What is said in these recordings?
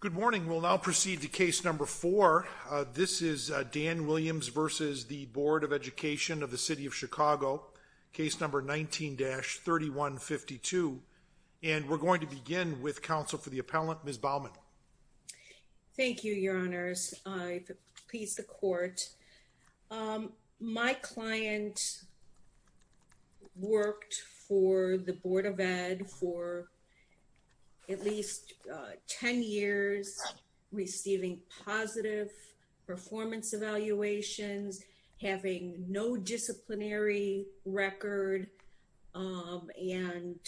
Good morning. We'll now proceed to case number four. This is Dan Williams v. the Board of Education of the City of Chicago, case number 19-3152, and we're going to begin with counsel for the appellant, Ms. Baumann. Thank you, Your Honor. Mr. Baumann has spent the past 10 years receiving positive performance evaluations, having no disciplinary record, and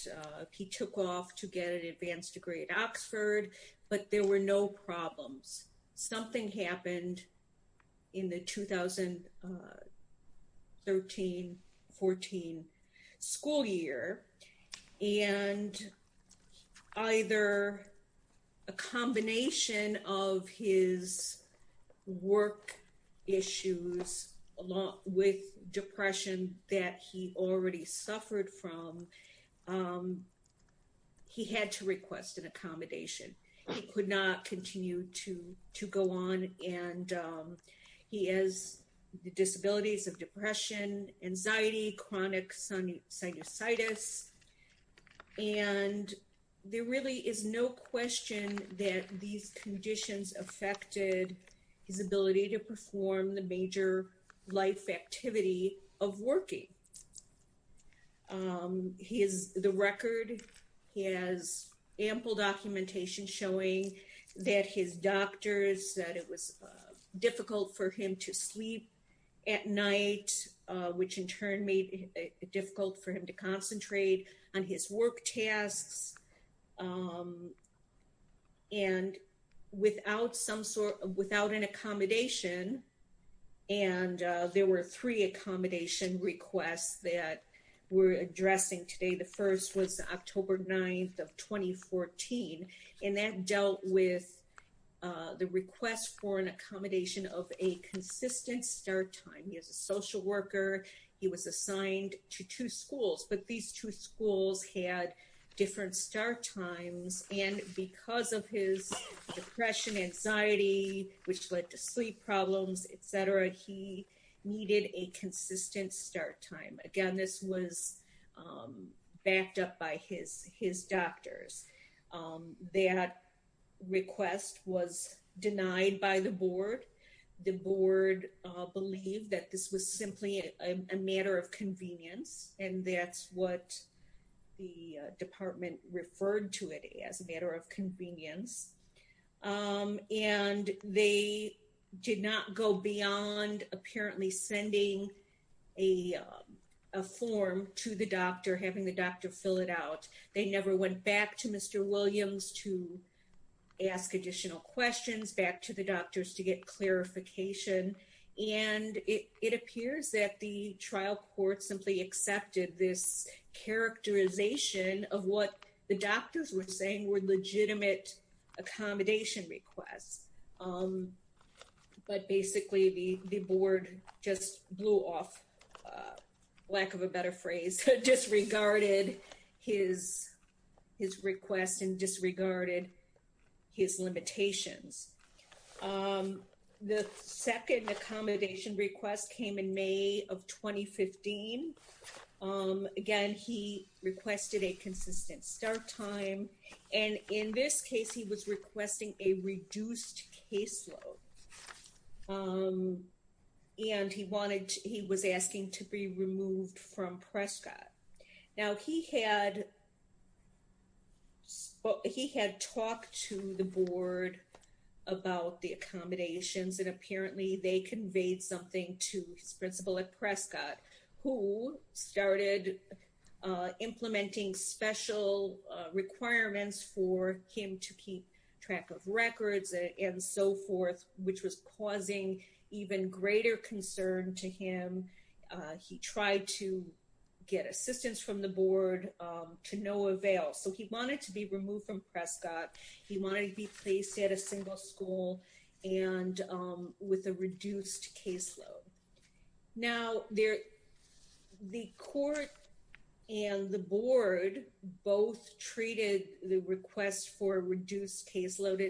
he took off to get an advanced degree at Oxford, but there were no problems. Something happened in the 2013-14 school year, and either a combination of his work issues along with depression that he already suffered from, he had to request an appellate. He has the disabilities of depression, anxiety, chronic sinusitis, and there really is no question that these conditions affected his ability to perform the major life activity of working. The record has ample documentation showing that his sleep at night, which in turn made it difficult for him to concentrate on his work tasks, and without some sort of, without an accommodation, and there were three accommodation requests that we're addressing today. The first was October 9th of 2014, and that dealt with the request for an accommodation of a consistent start time. He is a social worker. He was assigned to two schools, but these two schools had different start times, and because of his depression, anxiety, which led to sleep problems, etc., he needed a consistent start time. Again, this was backed up by his doctors. That request was denied by the board. The board believed that this was simply a matter of convenience, and that's what the department referred to it as, a matter of convenience, and they did not go beyond apparently sending a form to the doctor, having the doctor fill it out. They never went back to Mr. Williams to ask additional questions, back to the doctors to get clarification, and it appears that the trial court simply accepted this characterization of what the doctors were saying were legitimate accommodation requests, but basically the board just blew off, lack of a better phrase, disregarded his request and disregarded his limitations. The second accommodation request came in May of 2015. Again, he requested a consistent start time, and in this case he was requesting a reduced caseload, and he was asking to be removed from Prescott. Now, he had talked to the board about the accommodations, and apparently they conveyed something to his principal at Prescott, who started implementing special requirements for him to keep track of records and so forth, which was causing even greater concern to him. He tried to get assistance from the board to no avail, so he wanted to be removed from Prescott. He wanted to be placed at a single school and with a reduced caseload. Now, the court and the board both treated the request for reduced caseload,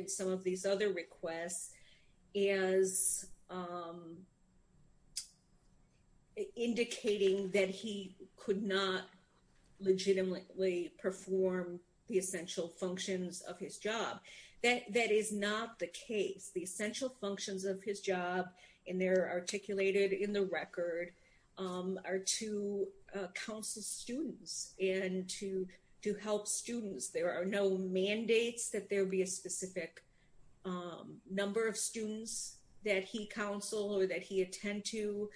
indicating that he could not legitimately perform the essential functions of his job. That is not the case. The essential functions of his job, and they're articulated in the record, are to counsel students and to help students. There are no mandates that there be a specific number of students that he counsel or that he attend to.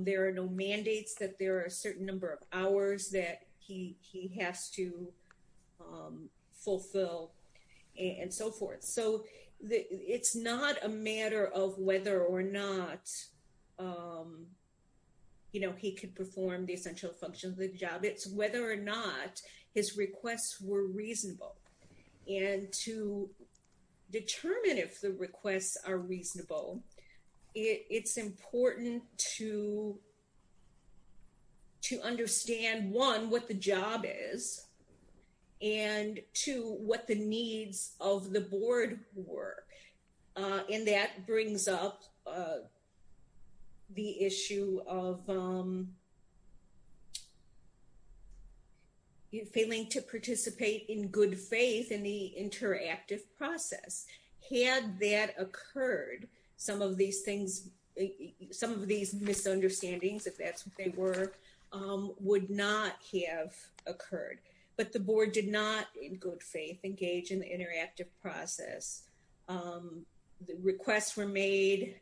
There are no mandates that there are a certain number of hours that he has to fulfill and so forth. So it's not a matter of whether or not, you know, he could perform the essential functions of the job. It's whether or not his requests were reasonable, and to determine if the requests are reasonable, it's important to understand, one, what the job is, and two, what the needs of the board were. And that brings up the issue of failing to participate in good faith in the interactive process. Had that occurred, some of these things, some of these misunderstandings, if that's what they were, would not have occurred. But the board did not, in good faith, engage in the interactive process. The requests were made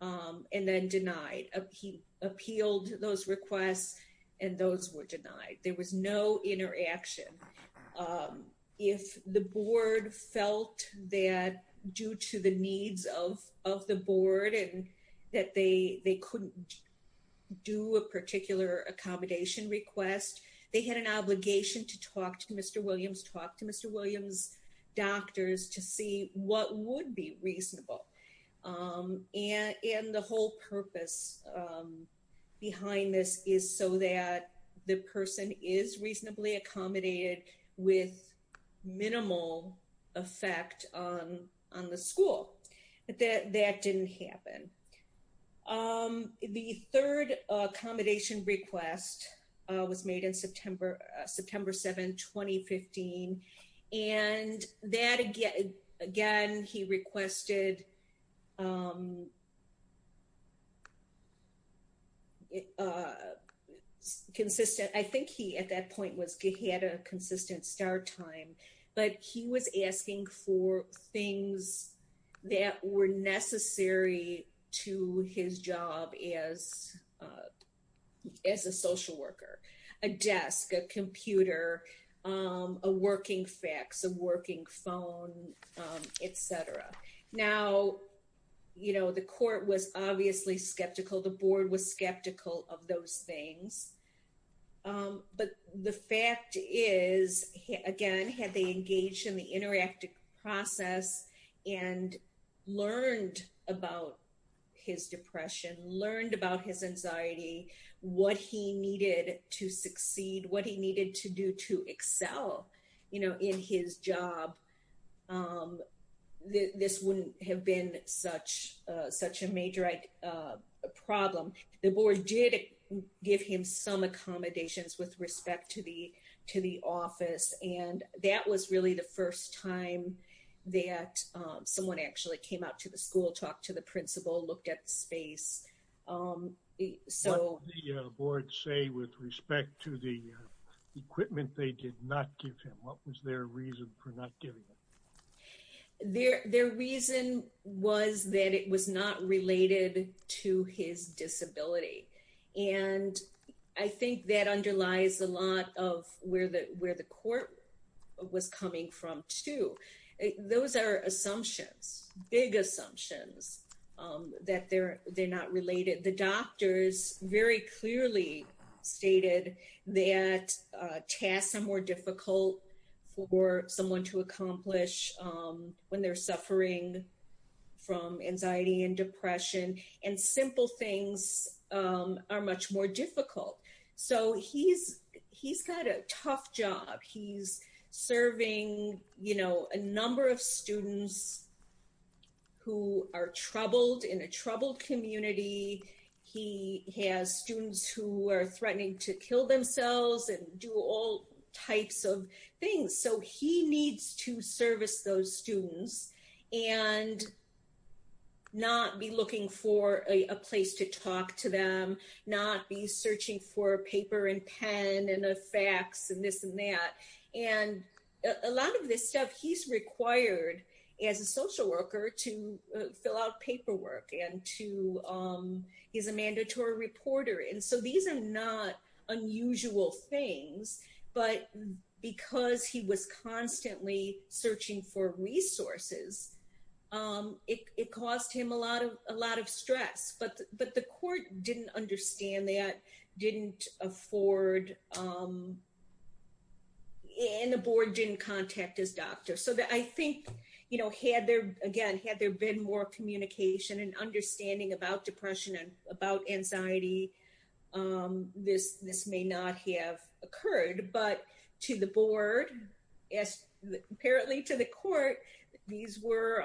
and then denied. He appealed those requests and those were denied. There was no interaction. If the board felt that due to the needs of the board and that they couldn't do a particular accommodation request, they had an obligation to talk to Mr. Williams, talk to Mr. Williams' doctors to see what would be reasonable. And the whole purpose behind this is so that the person is reasonably accommodated with minimal effect on the school. But that didn't happen. The third accommodation request was made in September 7, 2015. And that, again, he requested consistent, I think he, at that point, he had a consistent start time, but he was asking for things that were necessary to his job as a social worker. A desk, a computer, a you know, the court was obviously skeptical. The board was skeptical of those things. But the fact is, again, had they engaged in the interactive process and learned about his depression, learned about his anxiety, what he needed to succeed, what he needed to do to such a major problem. The board did give him some accommodations with respect to the office, and that was really the first time that someone actually came out to the school, talked to the principal, looked at the space. So... What did the board say with respect to the equipment they did not give him? What was their reason for not giving him? Their reason was that it was not related to his disability. And I think that underlies a lot of where the court was coming from, too. Those are assumptions, big assumptions, that they're not related. The doctors very clearly stated that tasks were difficult for someone to accomplish when they're suffering from anxiety and depression, and simple things are much more difficult. So he's got a tough job. He's serving, you know, a number of students who are troubled in a troubled community. He has students who are threatening to kill themselves and do all types of things. So he needs to service those students and not be looking for a place to talk to them, not be searching for a paper and pen and a fax and this and that. And a lot of this stuff, he's required as a social worker to not unusual things. But because he was constantly searching for resources, it caused him a lot of stress. But the court didn't understand that, didn't afford... And the board didn't contact his doctor. So I think, you know, had there been more communication and understanding about depression and about anxiety, this may not have occurred. But to the board, apparently to the court, these were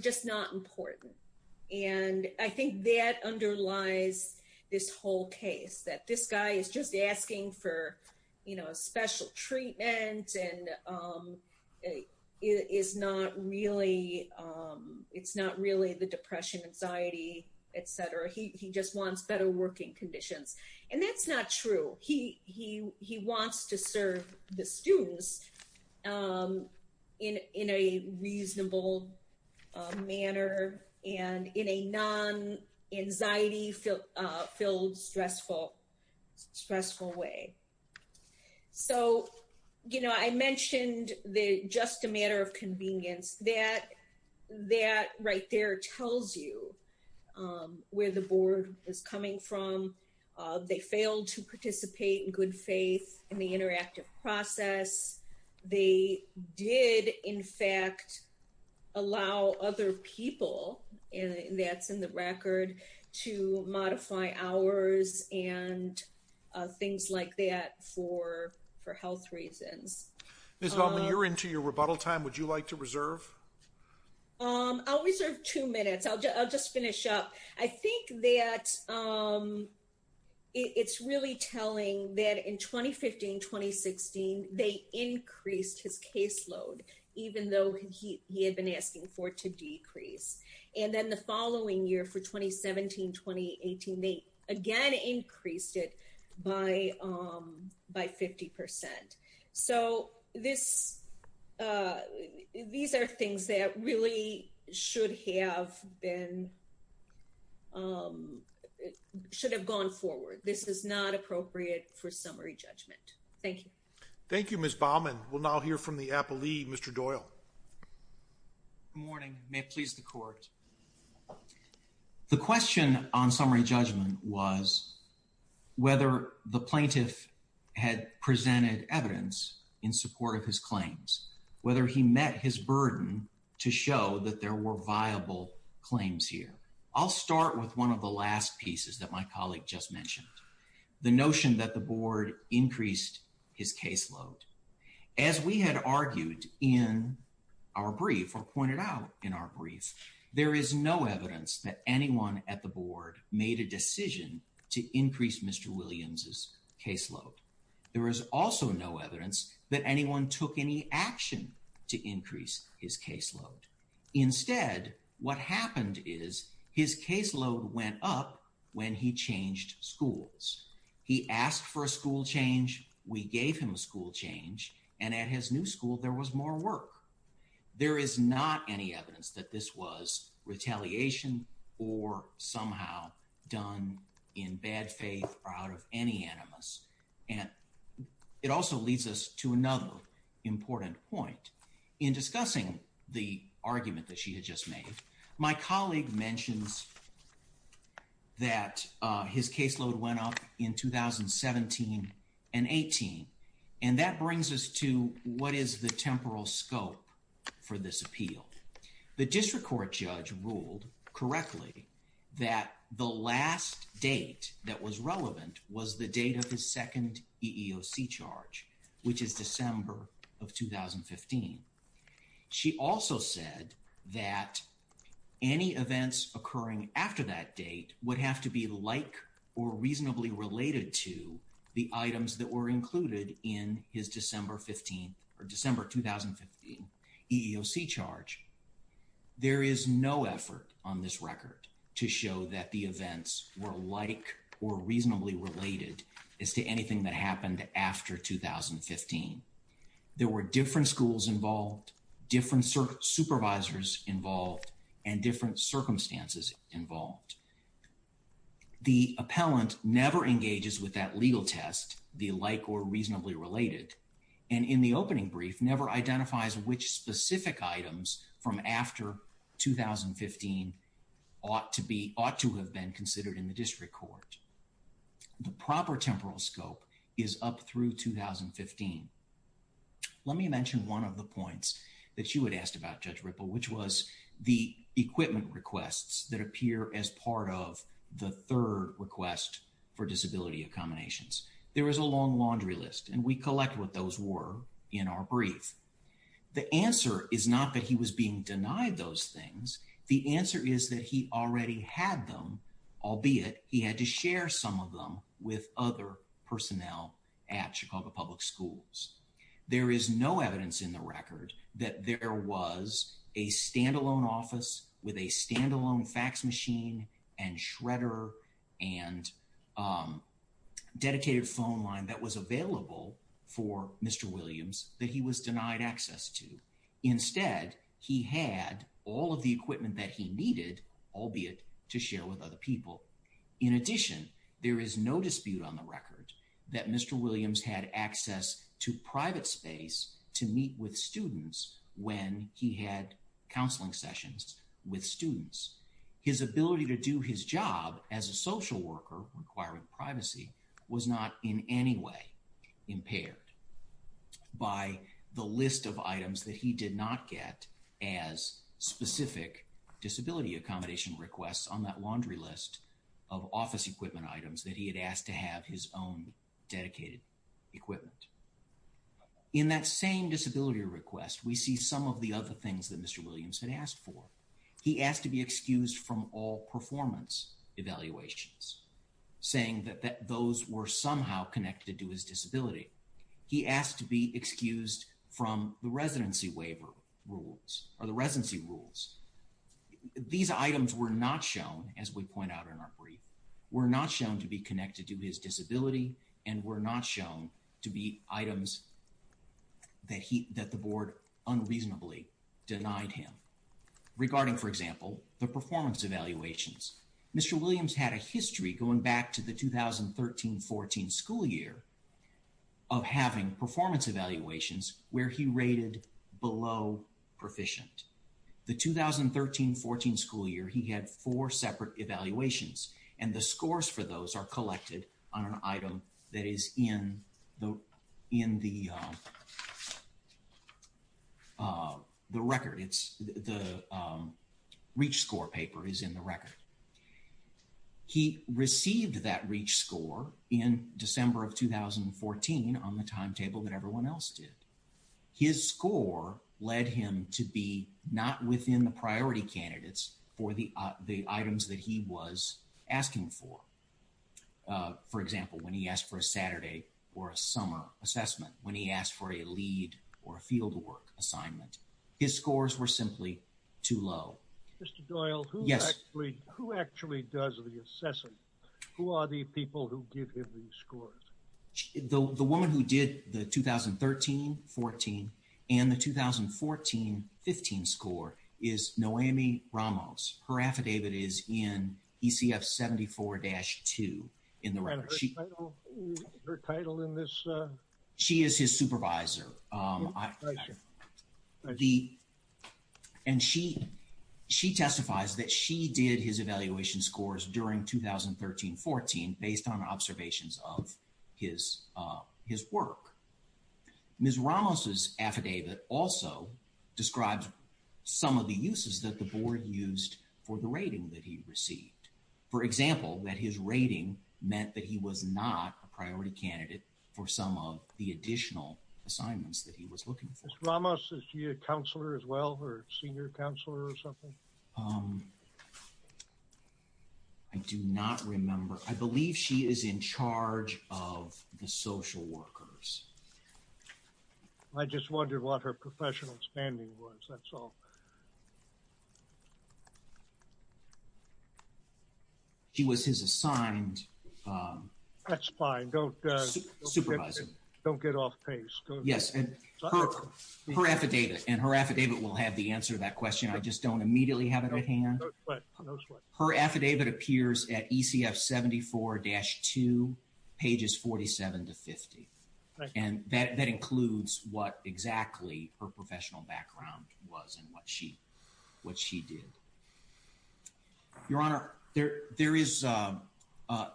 just not important. And I think that underlies this whole case, that this guy is just asking for, special treatment and it's not really the depression, anxiety, etc. He just wants better working conditions. And that's not true. He wants to serve the students in a reasonable manner and in a non-anxiety filled stressful way. So, you know, I mentioned the just a matter of convenience, that right there tells you where the board is coming from. They failed to participate in good faith in the interactive process. They did, in fact, allow other people, and that's in the record, to modify hours and things like that for health reasons. Ms. Bellman, you're into your rebuttal time. Would you like to reserve? I'll reserve two minutes. I'll just finish up. I think that it's really telling that in 2015, 2016, they increased his caseload, even though he had been asking for it to decrease. And then the following year for 2017, 2018, they again increased it by 50%. So, these are things that really should have gone forward. This is not appropriate for summary judgment. Thank you. Thank you, Ms. Bellman. We'll now hear from the appellee, Mr. Doyle. Good morning. May it please the court. The question on summary judgment was whether the plaintiff had presented evidence in support of his claims, whether he met his burden to show that there were viable claims here. I'll start with one of the last pieces that my colleague just mentioned, the notion that the board increased his caseload. As we had argued in our brief or pointed out in our brief, there is no evidence that anyone at the board made a decision to increase Mr. Williams' caseload. There is also no evidence that anyone took any action to increase his caseload. Instead, what happened is his caseload went up when he changed schools. He asked for a school change, we gave him a school change, and at his new school, there was more work. There is not any evidence that this was retaliation or somehow done in bad faith or out of any animus. And it also leads us to another important point. In discussing the argument that she had just made, my colleague mentions that his caseload went up in 2017 and 18, and that brings us to what is the temporal scope for this appeal. The district court judge ruled correctly that the last date that was relevant was the date of his second EEOC charge, which is December of 2015. She also said that any events occurring after that date would have to be like or reasonably related to the items that were included in his December 15 or December 2015 EEOC charge. There is no effort on this record to show that the events were like or reasonably related as to anything that happened after 2015. There were different schools involved, different supervisors involved, and different circumstances involved. The appellant never engages with that legal test, the like or reasonably related, and in the from after 2015 ought to have been considered in the district court. The proper temporal scope is up through 2015. Let me mention one of the points that you had asked about, Judge Ripple, which was the equipment requests that appear as part of the third request for disability accommodations. There was a long laundry list, and we collect what those were in our brief. The answer is not that he was being denied those things. The answer is that he already had them, albeit he had to share some of them with other personnel at Chicago Public Schools. There is no evidence in the record that there was a standalone office with a standalone fax machine and shredder and dedicated phone line that was available for Mr. Williams that he was denied access to. Instead, he had all of the equipment that he needed, albeit to share with other people. In addition, there is no dispute on the record that Mr. Williams had access to private space to meet with students when he had counseling sessions with students. His ability to do his job as a social worker requiring privacy was not in any way impaired by the list of items that he did not get as specific disability accommodation requests on that laundry list of office equipment items that he had asked to have his own dedicated equipment. In that same disability request, we see some of the other things that Mr. Williams had asked for. He asked to be excused from all performance evaluations, saying that those were somehow connected to his disability. He asked to be excused from the residency waiver rules or the residency rules. These items were not shown, as we point out in our brief, were not shown to be connected to his disability, and were not shown to be items that the board unreasonably denied him. Regarding, for example, the performance evaluations, Mr. Williams had a history going back to the 2013-14 school year of having performance evaluations where he rated below proficient. The 2013-14 school year, he had four separate evaluations, and the scores for those are collected on an item that is in the record. The REACH score paper is in the record. He received that REACH score in December of 2014 on the timetable that everyone else did. His score led him to be not within the priority candidates for the items that he was asking for. For example, when he asked for a Saturday or a summer assessment, when he asked for a lead or a fieldwork assignment, his scores were simply too low. Mr. Doyle, who actually does the assessing? Who are the people who give him these scores? The woman who did the 2013-14 and the 2014-15 score is Noemi Ramos. Her affidavit is in ECF 74-2 in the record. Her title in this? She is his based on observations of his work. Ms. Ramos' affidavit also describes some of the uses that the board used for the rating that he received. For example, that his rating meant that he was not a priority candidate for some of the additional assignments that he was looking for. Ms. Ramos, is she a counselor as well or a senior counselor or something? I do not remember. I believe she is in charge of the social workers. I just wondered what her professional standing was. That's all. She was his assigned... That's fine. Don't get off pace. Yes. Her affidavit, and her affidavit will have the answer to that question. I just don't immediately have it at hand. Her affidavit appears at ECF 74-2, pages 47-50. That includes what exactly her professional background was and what she did. Your Honor,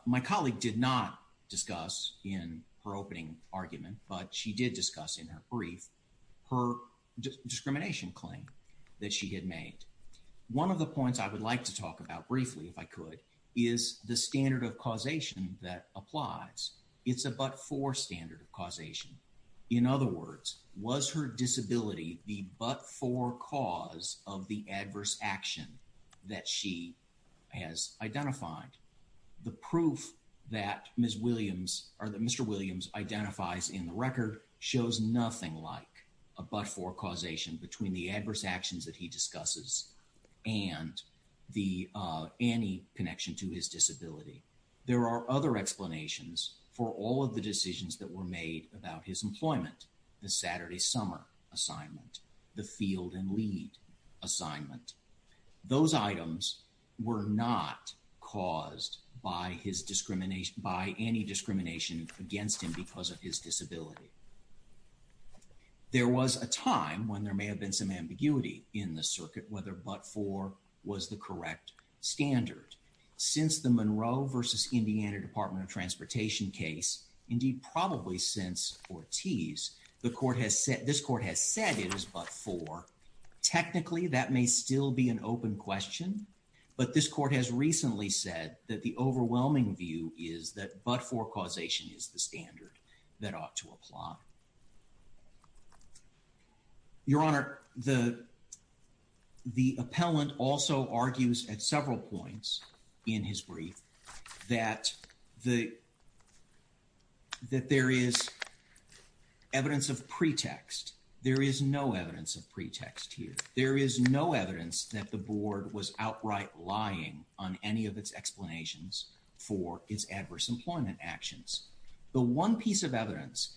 my colleague did not discuss in her opening argument, but she did discuss in her brief, her discrimination claim that she had made. One of the points I would like to talk about briefly, if I could, is the standard of causation that applies. It's a but-for standard of causation. In other words, was her disability the but-for cause of the adverse action that she has identified? The proof that Mr. Williams identifies in the record shows nothing like a but-for causation between the adverse actions that he discusses and any connection to his disability. There are other explanations for all of the decisions that were made about his employment, the Saturday summer assignment, the field and lead assignment. Those items were not caused by any discrimination against him because of his disability. There was a time when there may have been some ambiguity in the circuit whether but-for was the correct standard. Since the Monroe versus Indiana said it was but-for, technically that may still be an open question, but this court has recently said that the overwhelming view is that but-for causation is the standard that ought to apply. Your Honor, the appellant also argues at several points in his brief that there is evidence of pretext. There is no evidence of pretext here. There is no evidence that the board was outright lying on any of its explanations for its adverse employment actions. The one piece of evidence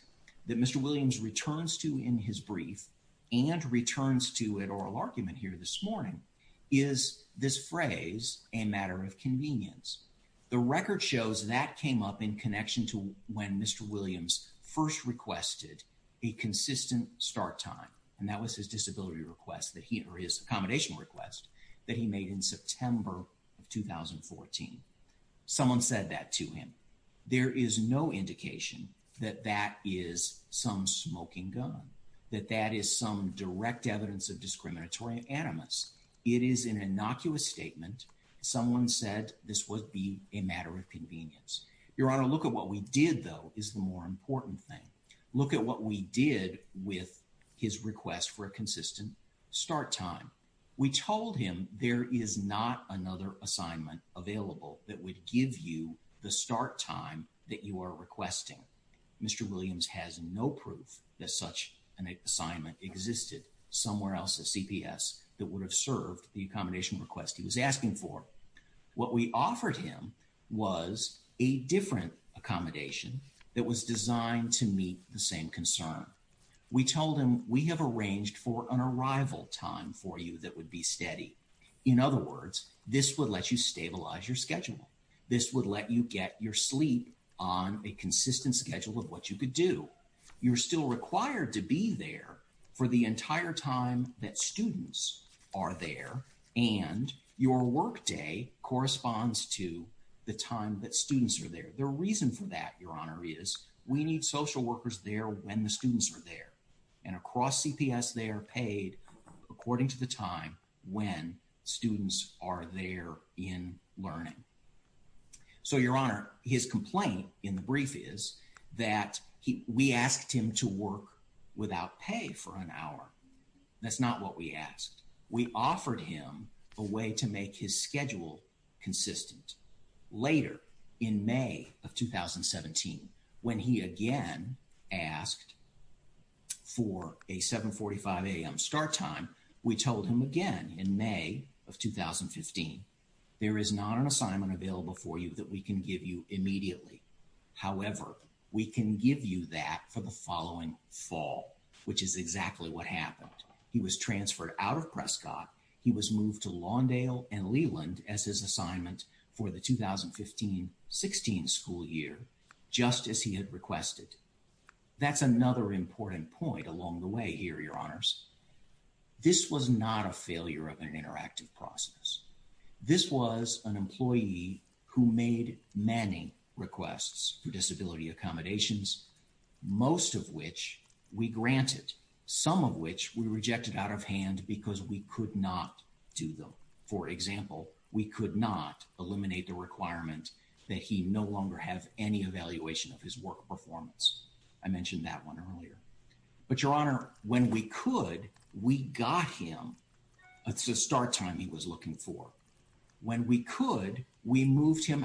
that Mr. Williams returns to in his brief and returns to at oral argument here this morning is this phrase, a matter of convenience. The record shows that came up in connection to when Mr. Williams first requested a consistent start time, and that was his disability request that he or his accommodation request that he made in September of 2014. Someone said that to him. There is no indication that that is some smoking gun, that that is some direct evidence of discriminatory animus. It is an innocuous statement. Someone said this would be a matter of convenience. Your Honor, look at what we did, though, is the more important thing. Look at what we did with his request for a consistent start time. We told him there is not another assignment available that would give you the start time that you are requesting. Mr. Williams has no proof that such an assignment existed somewhere else at CPS that would have a different accommodation that was designed to meet the same concern. We told him we have arranged for an arrival time for you that would be steady. In other words, this would let you stabilize your schedule. This would let you get your sleep on a consistent schedule of what you could do. You are still required to be there for the entire time that students are there, and your work day corresponds to the time that students are there. The reason for that, Your Honor, is we need social workers there when the students are there. And across CPS, they are paid according to the time when students are there in learning. So, Your Honor, his complaint in the brief is that we asked him to work without pay for an hour. That's not what we asked. We offered him a way to make his schedule consistent. Later, in May of 2017, when he again asked for a 7.45 a.m. start time, we told him again in May of 2015, there is not an assignment available for you that we can give you immediately. However, we can give you that for the following fall, which is exactly what happened. He was transferred out of Prescott. He was moved to Lawndale and Leland as his assignment for the 2015-16 school year, just as he had requested. That's another important point along the way here, Your Honors. This was not a failure of an interactive process. This was an employee who made many requests for disability accommodations, most of which we granted, some of which we rejected out of hand because we could not do them. For example, we could not eliminate the requirement that he no longer have any evaluation of his work performance. I mentioned that one earlier. But, Your Honor, when we could, we got him a start time he was moving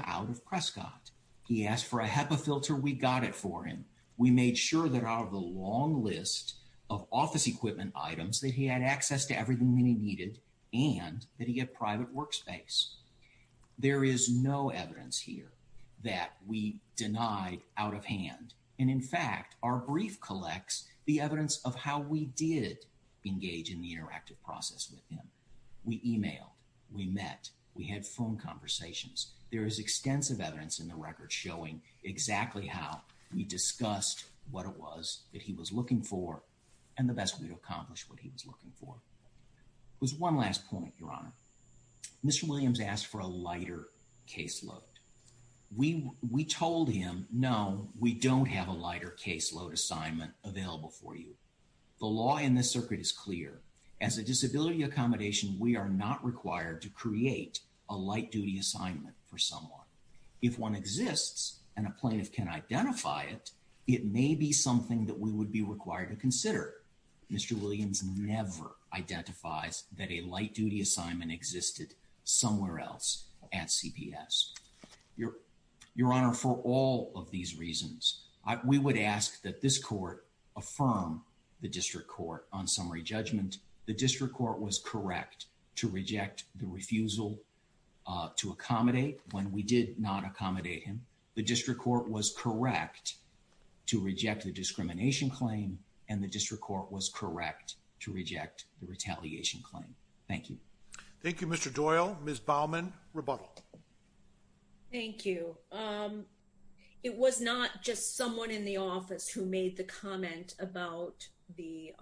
out of Prescott. He asked for a HEPA filter. We got it for him. We made sure that out of the long list of office equipment items that he had access to everything that he needed and that he had private workspace. There is no evidence here that we denied out of hand. And in fact, our brief collects the evidence of how we did engage in the interactive process with him. We emailed. We met. We had phone conversations. There is extensive evidence in the record showing exactly how we discussed what it was that he was looking for and the best way to accomplish what he was looking for. It was one last point, Your Honor. Mr. Williams asked for a lighter caseload. We told him, no, we don't have a lighter caseload assignment available for you. The law in this circuit is clear. As a disability accommodation, we are not required to create a light duty assignment for someone. If one exists and a plaintiff can identify it, it may be something that we would be required to consider. Mr. Williams never identifies that a light duty assignment existed somewhere else at CPS. Your Honor, for all of these reasons, we would ask that this court affirm the district court on summary judgment. The district court was correct to reject the refusal to accommodate when we did not accommodate him. The district court was correct to reject the discrimination claim, and the district court was correct to reject the retaliation claim. Thank you. Thank you, Mr. Doyle. Ms. Baumann, rebuttal. Thank you. It was not just someone in the office who made the comment about the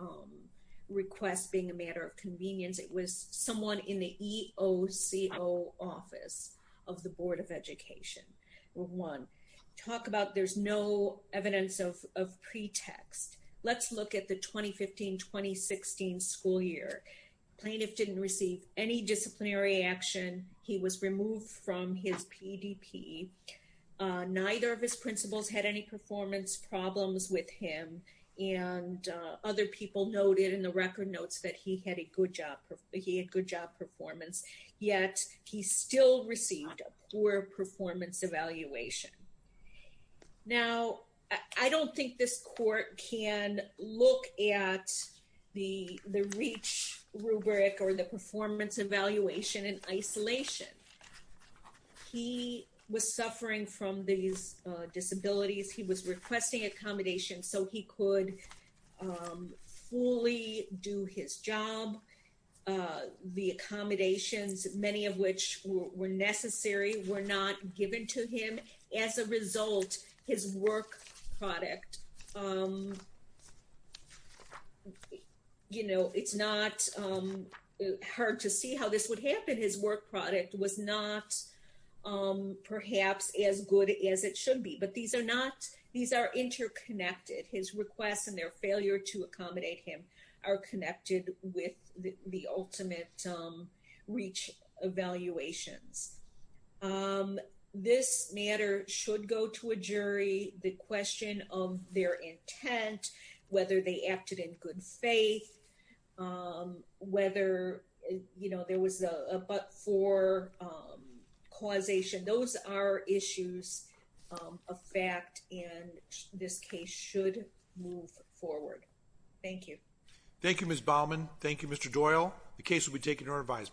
request being a matter of convenience. It was someone in the EOCO office of the Board of Education. Talk about there's no evidence of pretext. Let's look at the 2015-2016 school year. Plaintiff didn't receive any disciplinary action. He was removed from his PDP. Neither of his principals had any performance problems with him, and other people noted in the record notes that he had good job performance, yet he still received a poor performance evaluation. Now, I don't think this court can look at the REACH rubric or the performance evaluation in isolation. He was suffering from these disabilities. He was requesting accommodation so he could fully do his job. The accommodations, many of which were necessary, were not given to him. As a result, his work product, you know, it's not hard to see how this would happen. His work product was not perhaps as good as it should be, but these are interconnected. His requests and their failure to accommodate him are connected with the ultimate REACH evaluations. This matter should go to a jury. The question of their intent, whether they acted in good faith, whether, you know, there was a but-for causation, those are issues of fact, and this case should move forward. Thank you. Thank you, Ms. Baumann. Thank you, Mr. Doyle. The case will be taken to revisement.